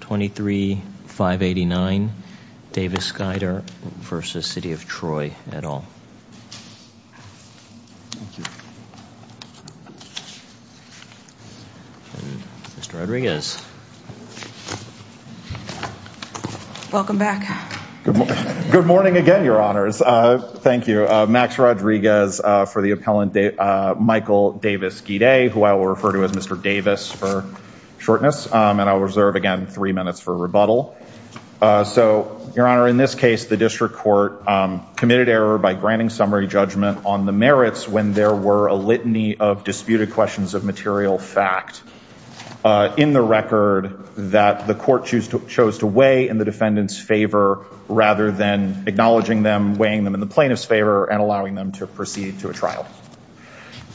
23, 589 Davis-Guider v. City of Troy, et al. Mr. Rodriguez. Welcome back. Good morning again, your honors. Thank you. Max Rodriguez for the appellant Michael Davis-Guider, who I will refer to as Mr. Davis for shortness, and I'll reserve, again, three minutes for rebuttal. So your honor, in this case, the district court committed error by granting summary judgment on the merits when there were a litany of disputed questions of material fact in the record that the court chose to weigh in the defendant's favor rather than acknowledging them, weighing them in the plaintiff's favor, and allowing them to proceed to a trial.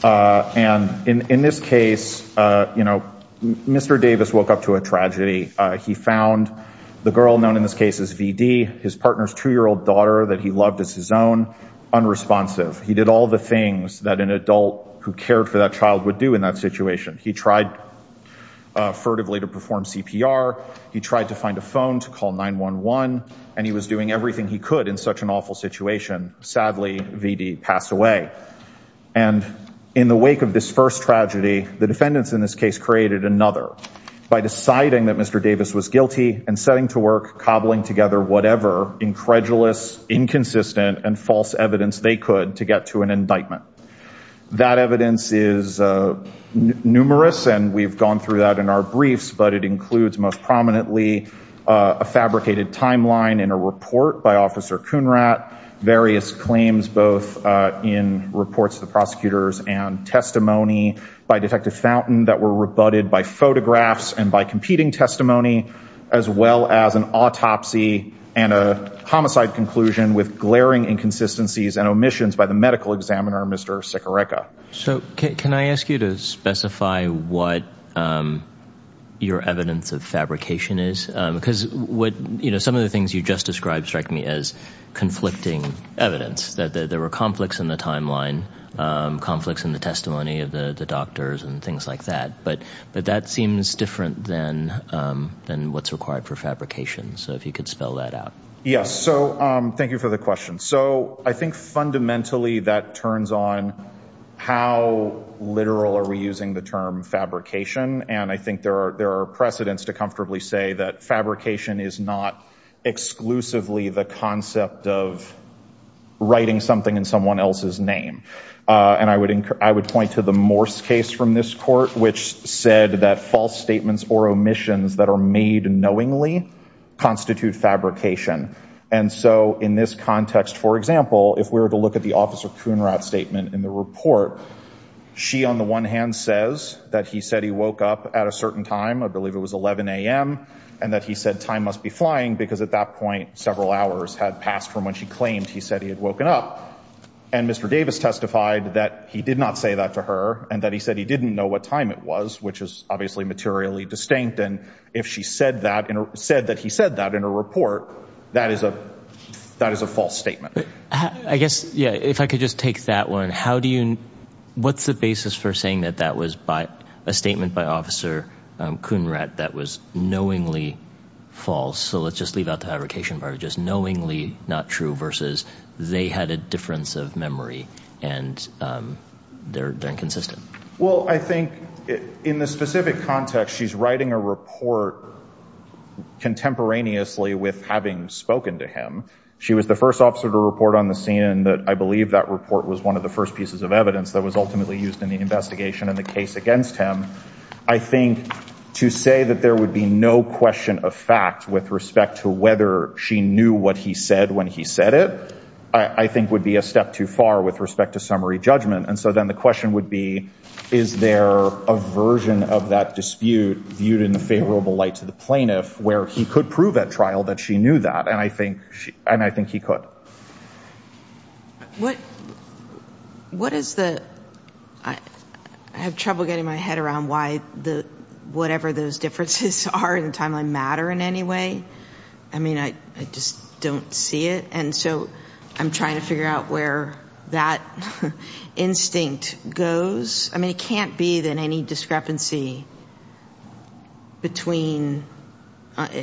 And in this case, you know, Mr. Davis woke up to a tragedy. He found the girl known in this case as VD, his partner's two-year-old daughter that he loved as his own, unresponsive. He did all the things that an adult who cared for that child would do in that situation. He tried furtively to perform CPR. He tried to find a phone to call 911, and he was doing everything he could in such an awful situation. Sadly, VD passed away. And in the wake of this first tragedy, the defendants in this case created another by deciding that Mr. Davis was guilty and setting to work cobbling together whatever incredulous, inconsistent, and false evidence they could to get to an indictment. That evidence is numerous, and we've gone through that in our briefs, but it includes most prominently a fabricated timeline in a report by Officer Kunrat, various claims both in reports to the prosecutors and testimony by Detective Fountain that were rebutted by photographs and by competing testimony, as well as an autopsy and a homicide conclusion with glaring inconsistencies and omissions by the medical examiner, Mr. Sikoreka. So can I ask you to specify what your evidence of fabrication is? Because some of the things you just described struck me as conflicting evidence, that there were conflicts in the timeline, conflicts in the testimony of the doctors and things like that. But that seems different than what's required for fabrication, so if you could spell that out. Yes. So thank you for the question. So I think fundamentally that turns on how literal are we using the term fabrication, and I think there are precedents to comfortably say that fabrication is not exclusively the concept of writing something in someone else's name. And I would point to the Morse case from this court, which said that false statements or omissions that are made knowingly constitute fabrication. And so in this context, for example, if we were to look at the officer Kuhnrath statement in the report, she on the one hand says that he said he woke up at a certain time, I believe it was 11 a.m., and that he said time must be flying because at that point, several hours had passed from when she claimed he said he had woken up. And Mr. Davis testified that he did not say that to her and that he said he didn't know what time it was, which is obviously materially distinct. And if she said that, said that he said that in a report, that is a false statement. I guess, yeah, if I could just take that one. How do you, what's the basis for saying that that was a statement by Officer Kuhnrath that was knowingly false? So let's just leave out the fabrication part, just knowingly not true versus they had a difference of memory and they're inconsistent. Well, I think in the specific context, she's writing a report contemporaneously with having spoken to him. She was the first officer to report on the scene that I believe that report was one of the first pieces of evidence that was ultimately used in the investigation in the case against him. I think to say that there would be no question of fact with respect to whether she knew what he said when he said it, I think would be a step too far with respect to summary judgment. And so then the question would be, is there a version of that dispute viewed in the favorable light to the plaintiff where he could prove at trial that she knew that? And I think, and I think he could. What, what is the, I have trouble getting my head around why the, whatever those differences are in timeline matter in any way. I mean, I just don't see it. And so I'm trying to figure out where that instinct goes. I mean, it can't be that any discrepancy between,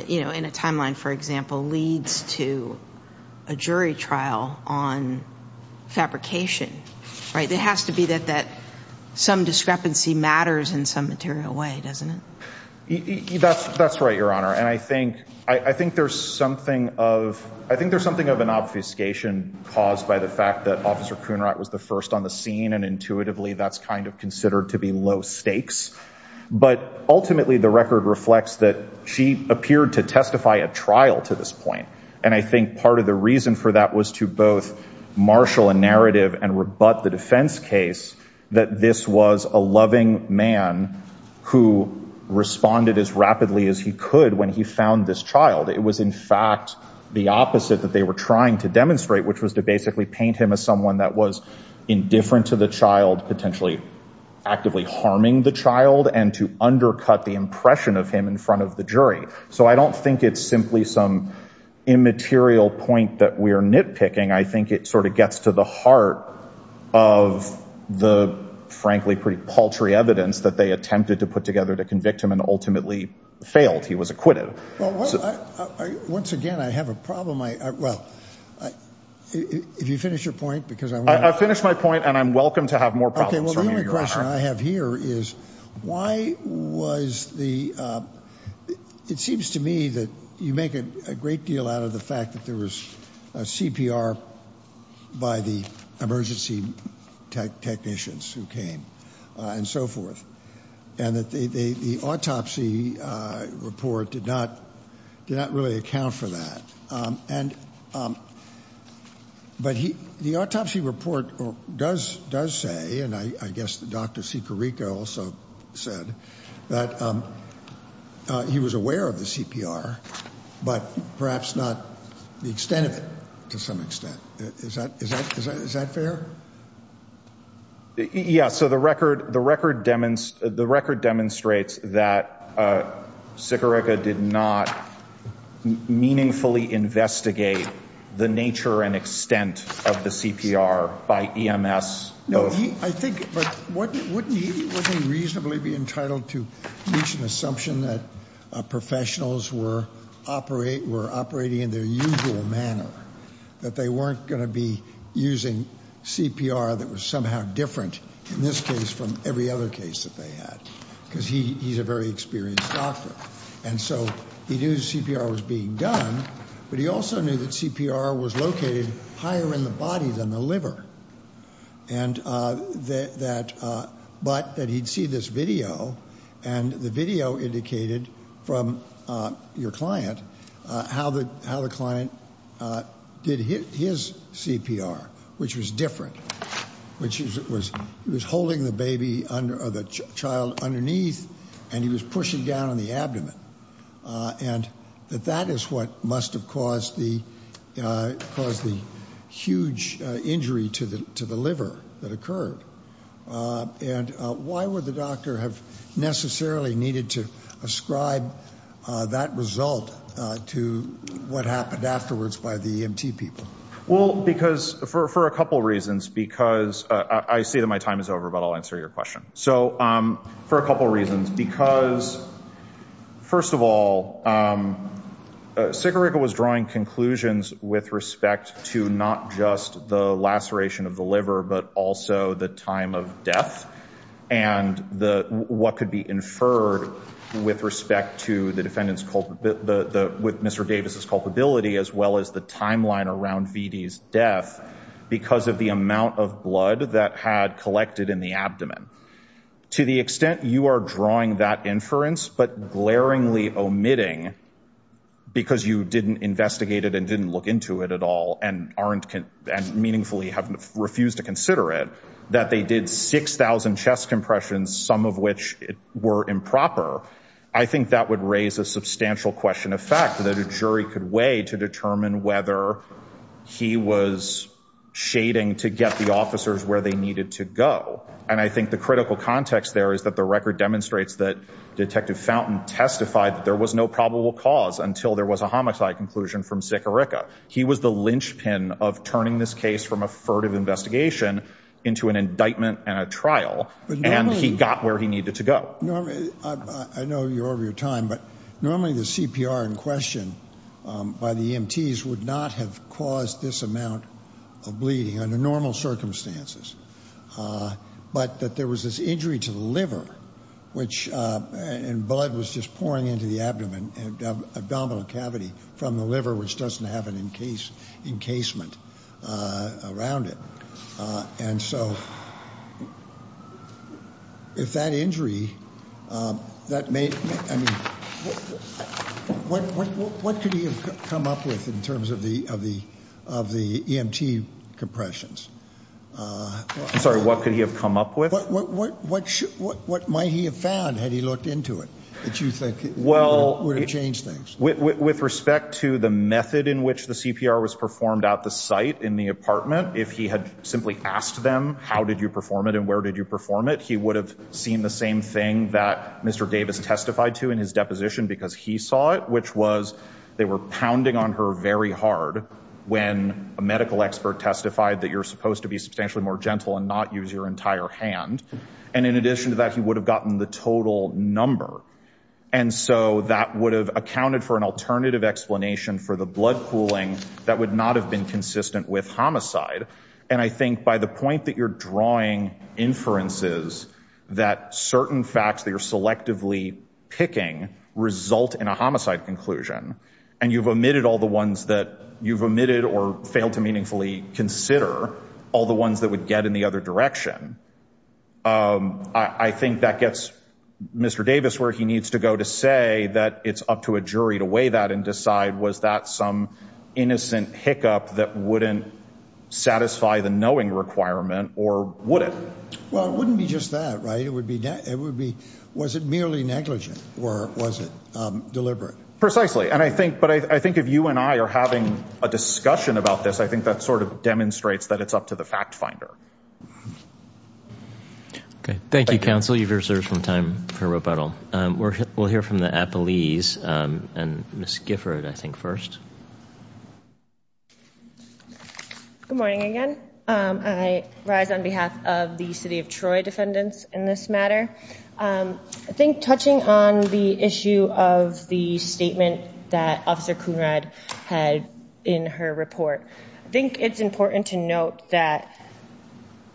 you know, in a timeline, for example, leads to a jury trial on fabrication, right? There has to be that, that some discrepancy matters in some material way, doesn't it? That's right, Your Honor. And I think, I think there's something of, I think there's something of an obfuscation caused by the fact that Officer Kunrat was the first on the scene and intuitively that's kind of considered to be low stakes, but ultimately the record reflects that she appeared to testify at trial to this point. And I think part of the reason for that was to both marshal a narrative and rebut the defense case that this was a loving man who responded as rapidly as he could when he found this child. It was in fact the opposite that they were trying to demonstrate, which was to basically paint him as someone that was indifferent to the child, potentially actively harming the child and to undercut the impression of him in front of the jury. So I don't think it's simply some immaterial point that we're nitpicking. I think it sort of gets to the heart of the, frankly, pretty paltry evidence that they attempted to put together to convict him and ultimately failed. He was acquitted. Well, once again, I have a problem. I, well, if you finish your point, because I finished my point and I'm welcome to have more problems. The only question I have here is why was the, it seems to me that you make a great deal out of the fact that there was a CPR by the emergency technicians who came and so forth and that they, the autopsy report did not, did not really account for that. And, but he, the autopsy report does, does say, and I guess the Dr. Sicarico also said that he was aware of the CPR, but perhaps not the extent of it to some extent. Is that, is that, is that, is that fair? Yeah. So the record, the record demons, the record demonstrates that Sicarico did not meaningfully investigate the nature and extent of the CPR by EMS. No, I think, but wouldn't he, wouldn't he reasonably be entitled to reach an assumption that professionals were operate, were operating in their usual manner, that they weren't going to be using CPR that was somehow different in this case from every other case that they had, because he, he's a very experienced doctor. And so he knew CPR was being done, but he also knew that CPR was located higher in the body than the liver. And that, but that he'd see this video and the video indicated from your client how the, how the client did his CPR, which was different, which was, he was holding the baby under, the child underneath and he was pushing down on the abdomen. And that that is what must have caused the, caused the huge injury to the, to the liver that occurred. And why would the doctor have necessarily needed to ascribe that result to what happened afterwards by the EMT people? Well, because for, for a couple of reasons, because I say that my time is over, but I'll answer your question. So for a couple of reasons, because first of all, Sigiriga was drawing conclusions with respect to not just the laceration of the liver, but also the time of death and the, what could be inferred with respect to the defendant's culpability, the, the, with Mr. Davis's culpability, as well as the timeline around VD's death, because of the amount of blood that had collected in the abdomen. To the extent you are drawing that inference, but glaringly omitting because you didn't investigate it and didn't look into it at all and aren't, and meaningfully haven't refused to consider it, that they did 6,000 chest compressions, some of which were improper. I think that would raise a substantial question of fact that a jury could weigh to determine whether he was shading to get the officers where they needed to go. And I think the critical context there is that the record demonstrates that detective Fountain testified that there was no probable cause until there was a homicide conclusion from Sigiriga. He was the linchpin of turning this case from a furtive investigation into an indictment and a trial, and he got where he needed to go. Normally, I know you're over your time, but normally the CPR in question by the EMTs would not have caused this amount of bleeding under normal circumstances. But that there was this injury to the liver, which, and blood was just pouring into the abdomen and abdominal cavity from the liver, which doesn't have an encase, encasement around it. And so, if that injury, that made, I mean, what could he have come up with in terms of the EMT compressions? I'm sorry, what could he have come up with? What might he have found had he looked into it that you think would have changed things? With respect to the method in which the CPR was performed at the site in the apartment, if he had simply asked them, how did you perform it and where did you perform it, he would have seen the same thing that Mr. Davis testified to in his deposition because he saw it, which was they were pounding on her very hard when a medical expert testified that you're supposed to be substantially more gentle and not use your entire hand. And in addition to that, he would have gotten the total number. And so that would have accounted for an alternative explanation for the blood pooling that would not have been consistent with homicide. And I think by the point that you're drawing inferences that certain facts that you're selectively picking result in a homicide conclusion, and you've omitted all the ones that you've omitted or failed to meaningfully consider, all the ones that would get in the other direction, I think that gets Mr. Davis where he needs to go to say that it's up to a jury to weigh that and decide, was that some innocent hiccup that wouldn't satisfy the knowing requirement or would it? Well, it wouldn't be just that, right? It would be, it would be, was it merely negligent or was it deliberate? Precisely. And I think, but I think if you and I are having a discussion about this, I think that sort of demonstrates that it's up to the fact finder. Okay. Thank you, counsel. You've reserved some time for rebuttal. We'll hear from the appellees and Ms. Gifford, I think, first. Good morning, again. I rise on behalf of the city of Troy defendants in this matter. I think touching on the issue of the statement that Officer Kunrad had in her report, I think it's important to note that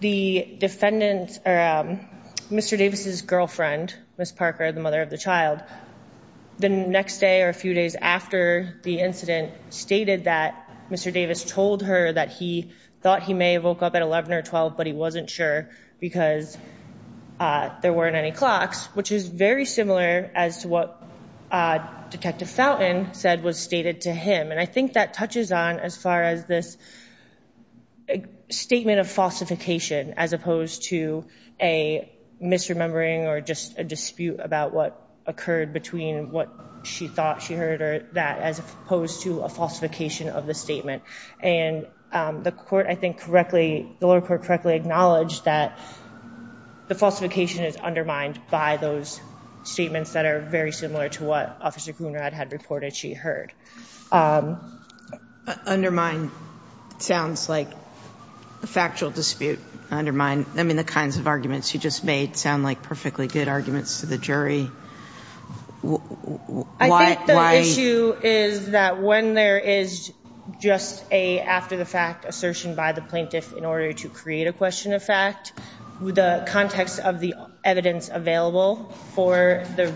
the defendant or Mr. Davis's girlfriend, Ms. Parker, the mother of the child, the next day or a few days after the incident stated that Mr. Davis told her that he thought he may have woke up at 11 or 12, but he wasn't sure because there weren't any clocks, which is very similar as to what Detective Fountain said was stated to him. And I think that touches on as far as this statement of falsification as opposed to a misremembering or just a dispute about what occurred between what she thought she heard or that as opposed to a falsification of the statement. And the court, I think correctly, the lower court correctly acknowledged that the falsification is undermined by those statements that are very similar to what Officer Kunrad had reported and what she heard. Undermine sounds like a factual dispute. Undermine, I mean, the kinds of arguments you just made sound like perfectly good arguments to the jury. I think the issue is that when there is just a after the fact assertion by the plaintiff in order to create a question of fact, the context of the evidence available for the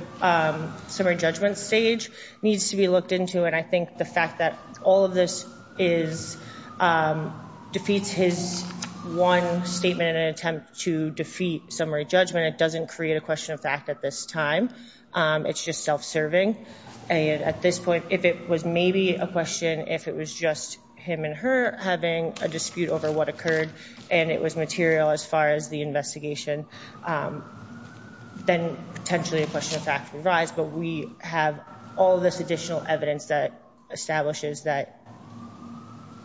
summary judgment stage needs to be looked into. And I think the fact that all of this defeats his one statement in an attempt to defeat summary judgment, it doesn't create a question of fact at this time. It's just self-serving. And at this point, if it was maybe a question, if it was just him and her having a dispute over what occurred and it was material as far as the investigation, then potentially a question of fact would rise, but we have all this additional evidence that establishes that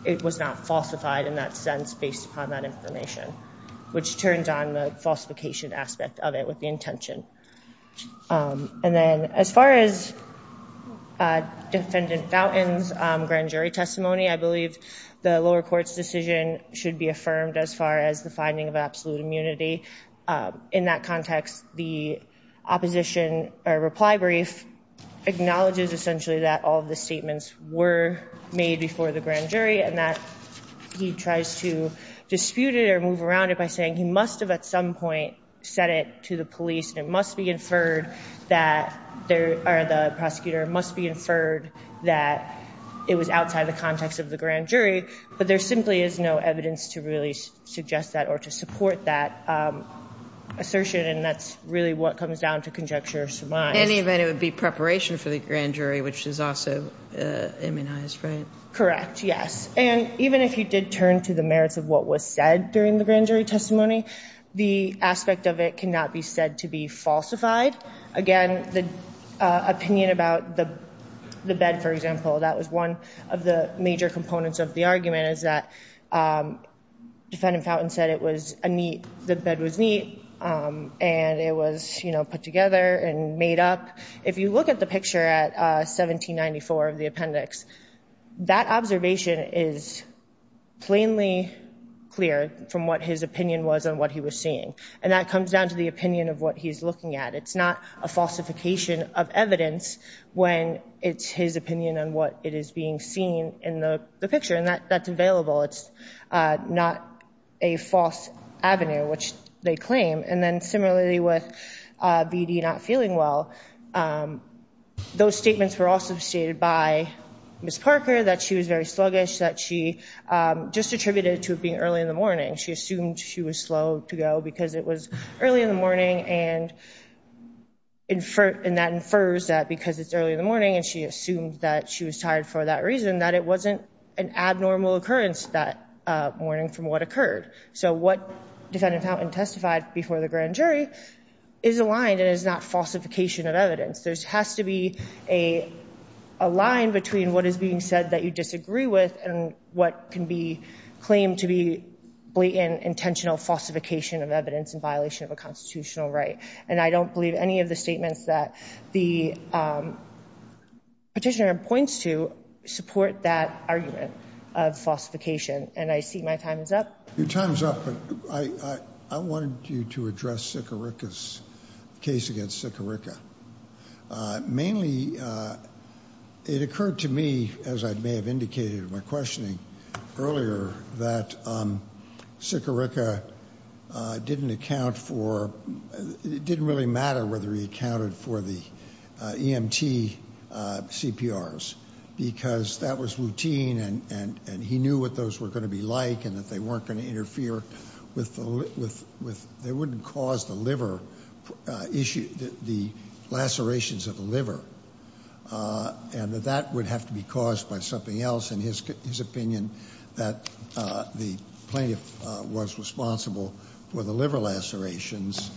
it was not falsified in that sense based upon that information, which turns on the falsification aspect of it with the intention. And then as far as Defendant Fountain's grand jury testimony, I believe the lower court's decision should be affirmed as far as the finding of absolute immunity. In that context, the opposition, or reply brief, acknowledges essentially that all of the statements were made before the grand jury and that he tries to dispute it or move around it by saying he must have at some point said it to the police and it must be inferred that there, or the prosecutor must be inferred that it was outside the context of the grand jury assertion, and that's really what comes down to conjecture or surmise. In any event, it would be preparation for the grand jury, which is also immunized, right? Correct, yes. And even if you did turn to the merits of what was said during the grand jury testimony, the aspect of it cannot be said to be falsified. Again, the opinion about the bed, for example, that was one of the major components of the argument is that Defendant Fountain said it was a neat, the bed was neat, and it was put together and made up. If you look at the picture at 1794 of the appendix, that observation is plainly clear from what his opinion was and what he was seeing, and that comes down to the opinion of what he's looking at. It's not a falsification of evidence when it's his opinion on what it is being seen in the picture, and that's available. It's not a false avenue, which they claim. And then similarly with BD not feeling well, those statements were also stated by Ms. Parker that she was very sluggish, that she just attributed it to it being early in the morning. She assumed she was slow to go because it was early in the morning, and that infers that because it's early in the morning, and she assumed that she was tired for that reason, that it wasn't an abnormal occurrence that morning from what occurred. So what Defendant Fountain testified before the grand jury is aligned and is not falsification of evidence. There has to be a line between what is being said that you disagree with and what can be claimed to be blatant, intentional falsification of evidence in violation of a constitutional right. And I don't believe any of the statements that the petitioner points to support that argument of falsification. And I see my time is up. Your time is up, but I wanted you to address Sikorica's case against Sikorica. Mainly it occurred to me, as I may have indicated in my questioning earlier, that Sikorica didn't account for, it didn't really matter whether he accounted for the EMT CPRs because that was routine and he knew what those were going to be like and that they weren't going to interfere with, they wouldn't cause the liver issue, the lacerations of the liver, and that that would have to be caused by something else in his opinion that the plaintiff was responsible for the liver lacerations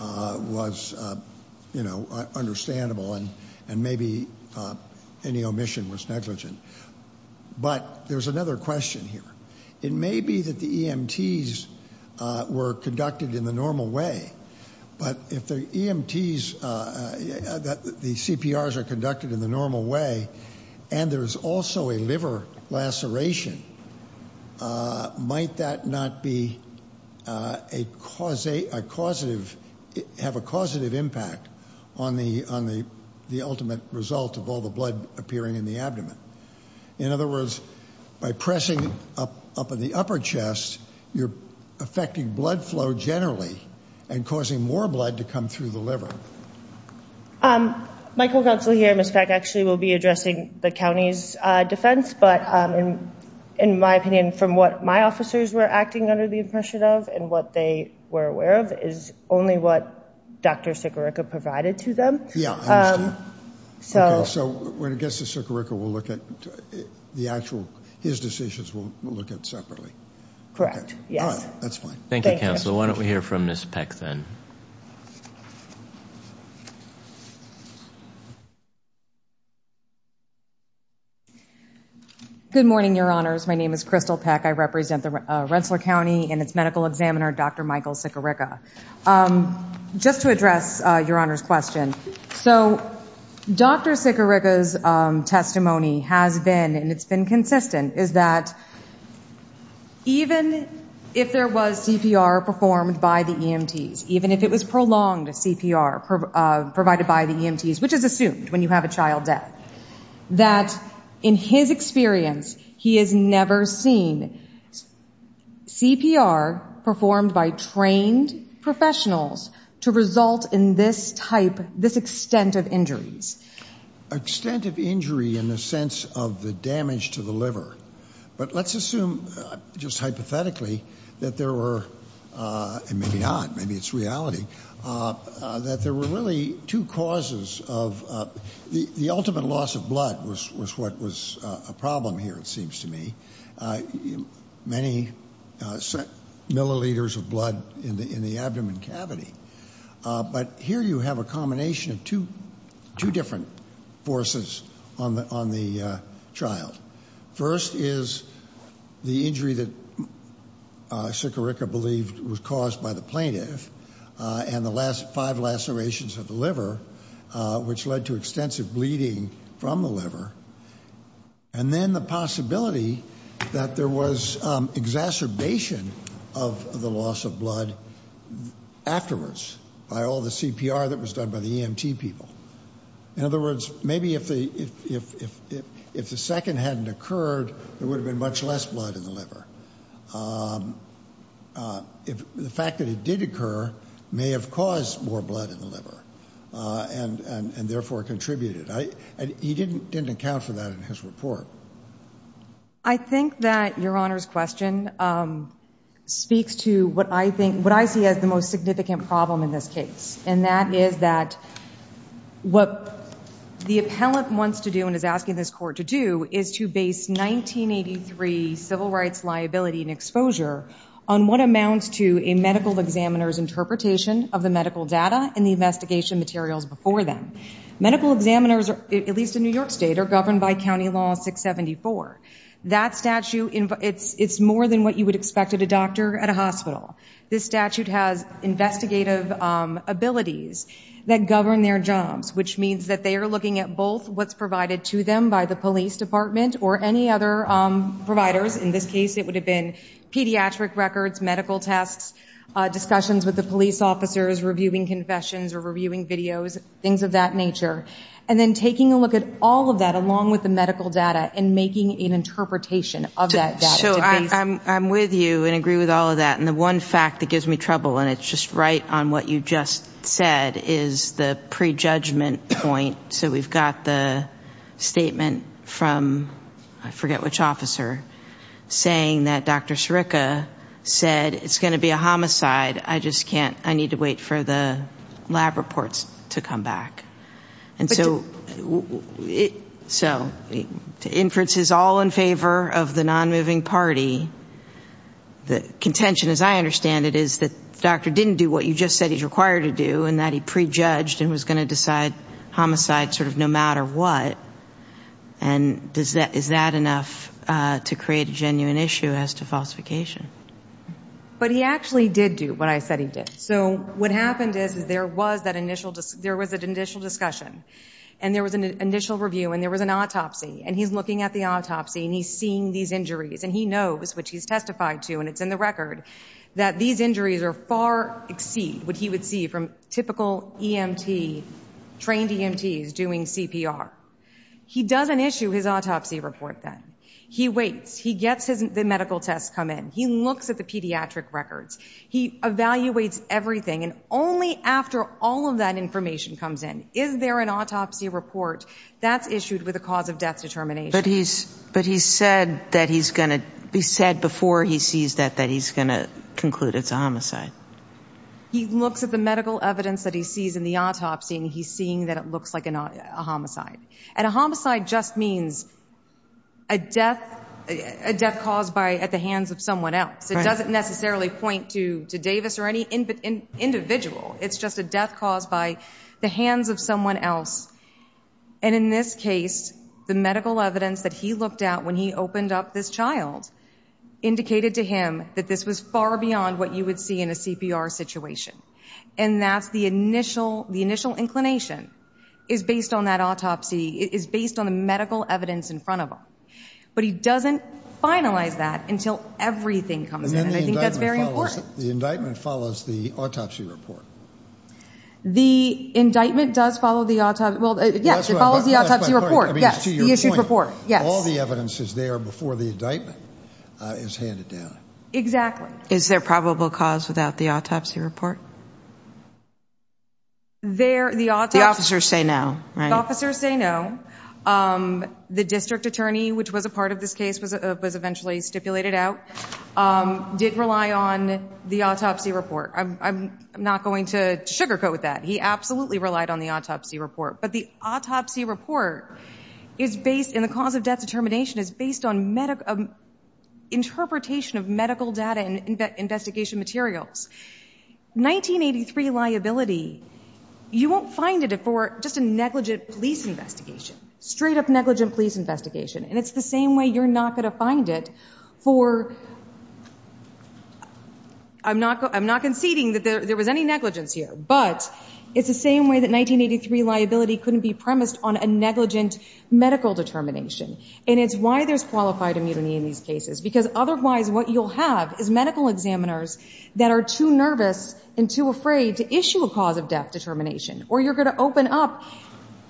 was, you know, understandable and maybe any omission was negligent. But there's another question here. It may be that the EMTs were conducted in the normal way, but if the EMTs, the CPRs are conducted in the normal way, and there's also a liver laceration, might that not be a causative, have a causative impact on the ultimate result of all the blood appearing in the abdomen? In other words, by pressing up in the upper chest, you're affecting blood flow generally and causing more blood to come through the liver. Michael Gunsel here, Ms. Peck, actually will be addressing the county's defense, but in my opinion, from what my officers were acting under the impression of and what they were aware of, is only what Dr. Sikorica provided to them. Yeah, I understand. Okay, so when it gets to Sikorica, we'll look at the actual, his decisions, we'll look at separately. Correct, yes. All right, that's fine. Thank you, Counselor. Why don't we hear from Ms. Peck then? Good morning, Your Honors. My name is Crystal Peck. I represent the Rensselaer County and its medical examiner, Dr. Michael Sikorica. Just to address Your Honor's question, so Dr. Sikorica's testimony has been, and it's CPR performed by the EMTs, even if it was prolonged CPR provided by the EMTs, which is assumed when you have a child death, that in his experience, he has never seen CPR performed by trained professionals to result in this type, this extent of injuries. Extent of injury in the sense of the damage to the liver, but let's assume just hypothetically that there were, and maybe not, maybe it's reality, that there were really two causes of the ultimate loss of blood was what was a problem here, it seems to me, many milliliters of blood in the abdomen cavity. But here you have a combination of two different forces on the child. First is the injury that Sikorica believed was caused by the plaintiff and the last five lacerations of the liver, which led to extensive bleeding from the liver. And then the possibility that there was exacerbation of the loss of blood afterwards by all the CPR that was done by the EMT people. In other words, maybe if the second hadn't occurred, there would have been much less blood in the liver. The fact that it did occur may have caused more blood in the liver and therefore contributed. He didn't account for that in his report. I think that Your Honor's question speaks to what I think, what I see as the most significant problem in this case, and that is that what the appellant wants to do and is asking this court to do is to base 1983 civil rights liability and exposure on what amounts to a medical examiner's interpretation of the medical data and the investigation materials before them. Medical examiners, at least in New York State, are governed by County Law 674. That statute, it's more than what you would expect at a doctor at a hospital. This statute has investigative abilities that govern their jobs, which means that they are looking at both what's provided to them by the police department or any other providers. In this case, it would have been pediatric records, medical tests, discussions with the police officers, reviewing confessions or reviewing videos, things of that nature, and then taking a look at all of that along with the medical data and making an interpretation of that data. So I'm with you and agree with all of that. The one fact that gives me trouble, and it's just right on what you just said, is the pre-judgment point. So we've got the statement from, I forget which officer, saying that Dr. Sirica said, it's going to be a homicide. I just can't. I need to wait for the lab reports to come back. The inference is all in favor of the non-moving party. The contention, as I understand it, is that the doctor didn't do what you just said he's required to do and that he pre-judged and was going to decide homicide sort of no matter what. And is that enough to create a genuine issue as to falsification? But he actually did do what I said he did. So what happened is there was an initial discussion, and there was an initial review, and there was an autopsy. And he's looking at the autopsy, and he's seeing these injuries. And he knows, which he's testified to, and it's in the record, that these injuries are far exceed what he would see from typical EMT, trained EMTs doing CPR. He doesn't issue his autopsy report then. He waits. He gets the medical tests come in. He looks at the pediatric records. He evaluates everything. And only after all of that information comes in, is there an autopsy report that's issued with a cause of death determination. But he said before he sees that that he's going to conclude it's a homicide. He looks at the medical evidence that he sees in the autopsy, and he's seeing that it looks like a homicide. And a homicide just means a death caused at the hands of someone else. It doesn't necessarily point to Davis or any individual. It's just a death caused by the hands of someone else. And in this case, the medical evidence that he looked at when he opened up this child indicated to him that this was far beyond what you would see in a CPR situation. And that's the initial, the initial inclination is based on that autopsy, is based on the medical evidence in front of him. But he doesn't finalize that until everything comes in. And I think that's very important. The indictment follows the autopsy report. The indictment does follow the autopsy report. Yes, the issued report. Yes. All the evidence is there before the indictment is handed down. Exactly. Is there probable cause without the autopsy report? The officers say no, right? The officers say no. The district attorney, which was a part of this case, was eventually stipulated out, didn't rely on the autopsy report. I'm not going to sugarcoat that. He absolutely relied on the autopsy report. But the autopsy report is based, and the cause of death determination is based on interpretation of medical data and investigation materials. 1983 liability, you won't find it for just a negligent police investigation, straight up negligent police investigation. And it's the same way you're not going to find it for, I'm not conceding that there was any negligence here. But it's the same way that 1983 liability couldn't be premised on a negligent medical determination. And it's why there's qualified immunity in these cases. Because otherwise, what you'll have is medical examiners that are too nervous and too afraid to issue a cause of death determination. Or you're going to open up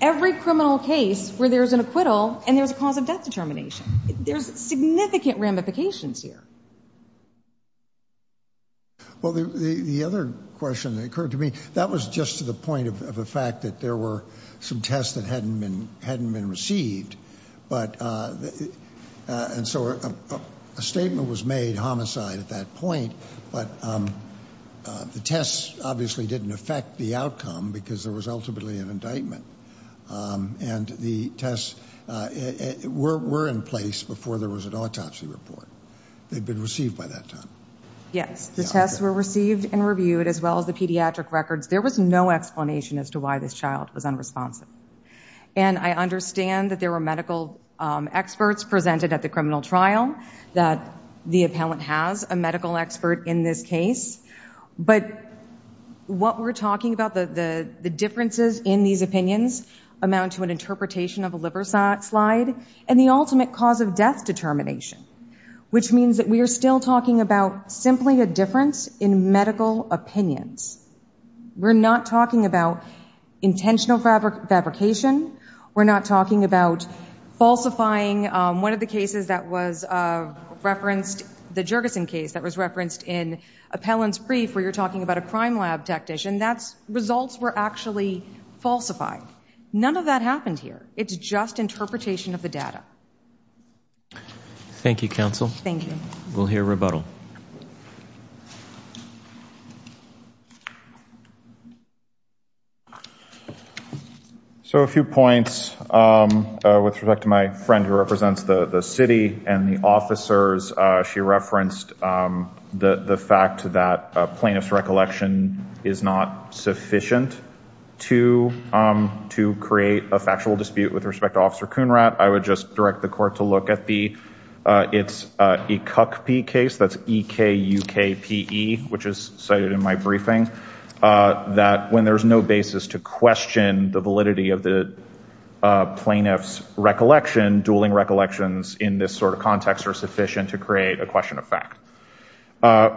every criminal case where there's an acquittal and there's a cause of death determination. There's significant ramifications here. Well, the other question that occurred to me, that was just to the point of the fact that there were some tests that hadn't been received. And so a statement was made, homicide, at that point. But the tests obviously didn't affect the outcome because there was ultimately an indictment. And the tests were in place before there was an autopsy report. They'd been received by that time. Yes, the tests were received and reviewed, as well as the pediatric records. There was no explanation as to why this child was unresponsive. And I understand that there were medical experts presented at the criminal trial, that the appellant has a medical expert in this case. But what we're talking about, the differences in these opinions amount to an interpretation of a liver slide and the ultimate cause of death determination, which means that we are still talking about simply a difference in medical opinions. We're not talking about intentional fabrication. We're not talking about falsifying. One of the cases that was referenced, the Jergesen case, that was referenced in Appellant's brief, where you're talking about a crime lab technician, that's results were actually falsified. None of that happened here. It's just interpretation of the data. Thank you, counsel. Thank you. We'll hear rebuttal. So a few points with respect to my friend who represents the city and the officers. She referenced the fact that plaintiff's recollection is not sufficient to create a factual dispute with respect to Officer Kunrat. I would just direct the court to look at the, it's EKUKPE case, that's E-K-U-K-P-E, which is cited in my briefing, that when there's no basis to question the validity of the plaintiff's recollection, dueling recollections in this sort of context are sufficient to create a question of fact.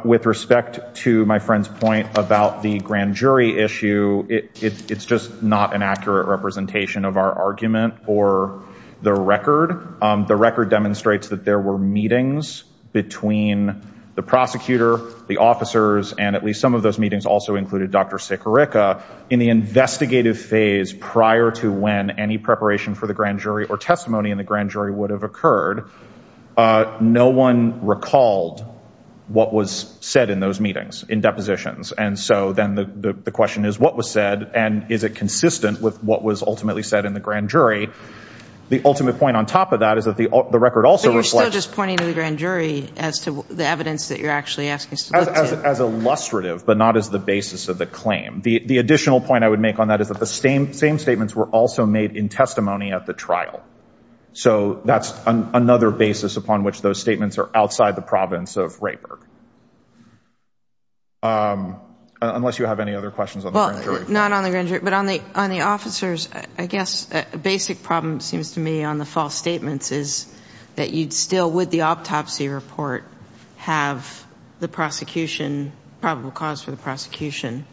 With respect to my friend's point about the grand jury issue, it's just not an accurate representation of our argument or the record. The record demonstrates that there were meetings between the prosecutor, the officers, and at least some of those meetings also included Dr. Sikorica, in the investigative phase prior to when any preparation for the grand jury or testimony in the grand jury would have occurred, no one recalled what was said in those meetings, in depositions. And so then the question is, what was said? And is it consistent with what was ultimately said in the grand jury? The ultimate point on top of that is that the record also reflects- But you're still just pointing to the grand jury as to the evidence that you're actually asking. As illustrative, but not as the basis of the claim. The additional point I would make on that is that the same statements were also made in testimony at the trial. So that's another basis upon which those statements are outside the province of Rayburg. Unless you have any other questions on the grand jury? Not on the grand jury, but on the officers, I guess a basic problem seems to me on the false statements is that you'd still, with the autopsy report, have the prosecution, probable cause for the prosecution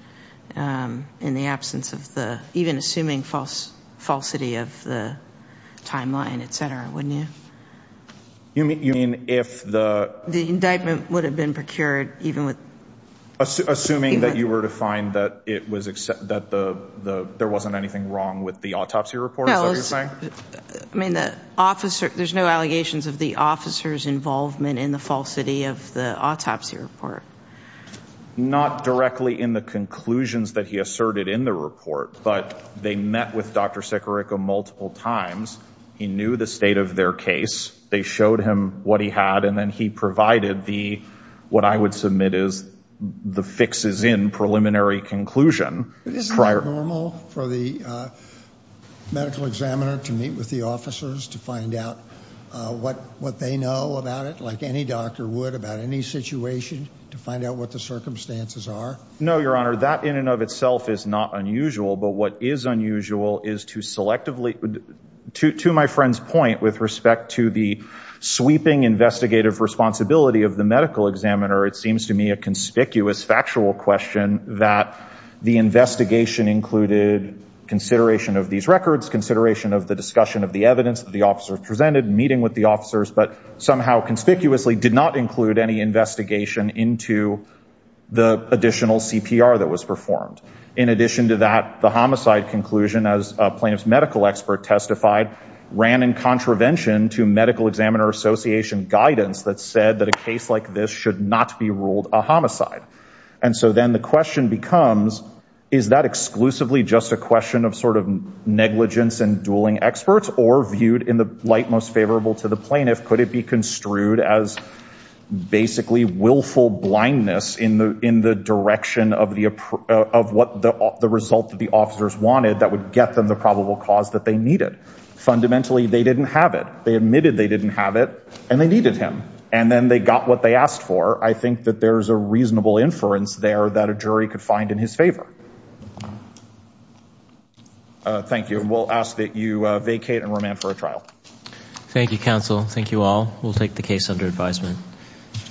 in the absence of the, even assuming falsity of the timeline, et cetera, wouldn't you? You mean if the- The indictment would have been procured even with- Assuming that you were to find that there wasn't anything wrong with the autopsy report? I mean, there's no allegations of the officer's involvement in the falsity of the autopsy report. Not directly in the conclusions that he asserted in the report, but they met with Dr. Sekariko multiple times. He knew the state of their case. They showed him what he had, and then he provided the, what I would submit is, the fixes in preliminary conclusion prior- Isn't that normal for the medical examiner to meet with the officers to find out what they know about it, like any doctor would about any situation, to find out what the circumstances are? No, Your Honor, that in and of itself is not unusual, but what is unusual is to selectively, to my friend's point with respect to the sweeping investigative responsibility of the medical examiner, it seems to me a conspicuous factual question that the investigation included consideration of these records, consideration of the discussion of the evidence that the officers presented, meeting with the officers, but somehow conspicuously did not include any investigation into the additional CPR that was performed. In addition to that, the homicide conclusion, as a plaintiff's medical expert testified, ran in contravention to medical examiner association guidance that said that a case like this should not be ruled a homicide. And so then the question becomes, is that exclusively just a question of sort of negligence and dueling experts, or viewed in the light most favorable to the plaintiff, could it be construed as basically willful blindness in the direction of what the result that the officers wanted that would get them the probable cause that they needed? Fundamentally, they didn't have it. They admitted they didn't have it, and they needed him. And then they got what they asked for. I think that there's a reasonable inference there that a jury could find in his favor. Thank you. We'll ask that you vacate and remand for a trial. Thank you, counsel. Thank you all. We'll take the case under advisement.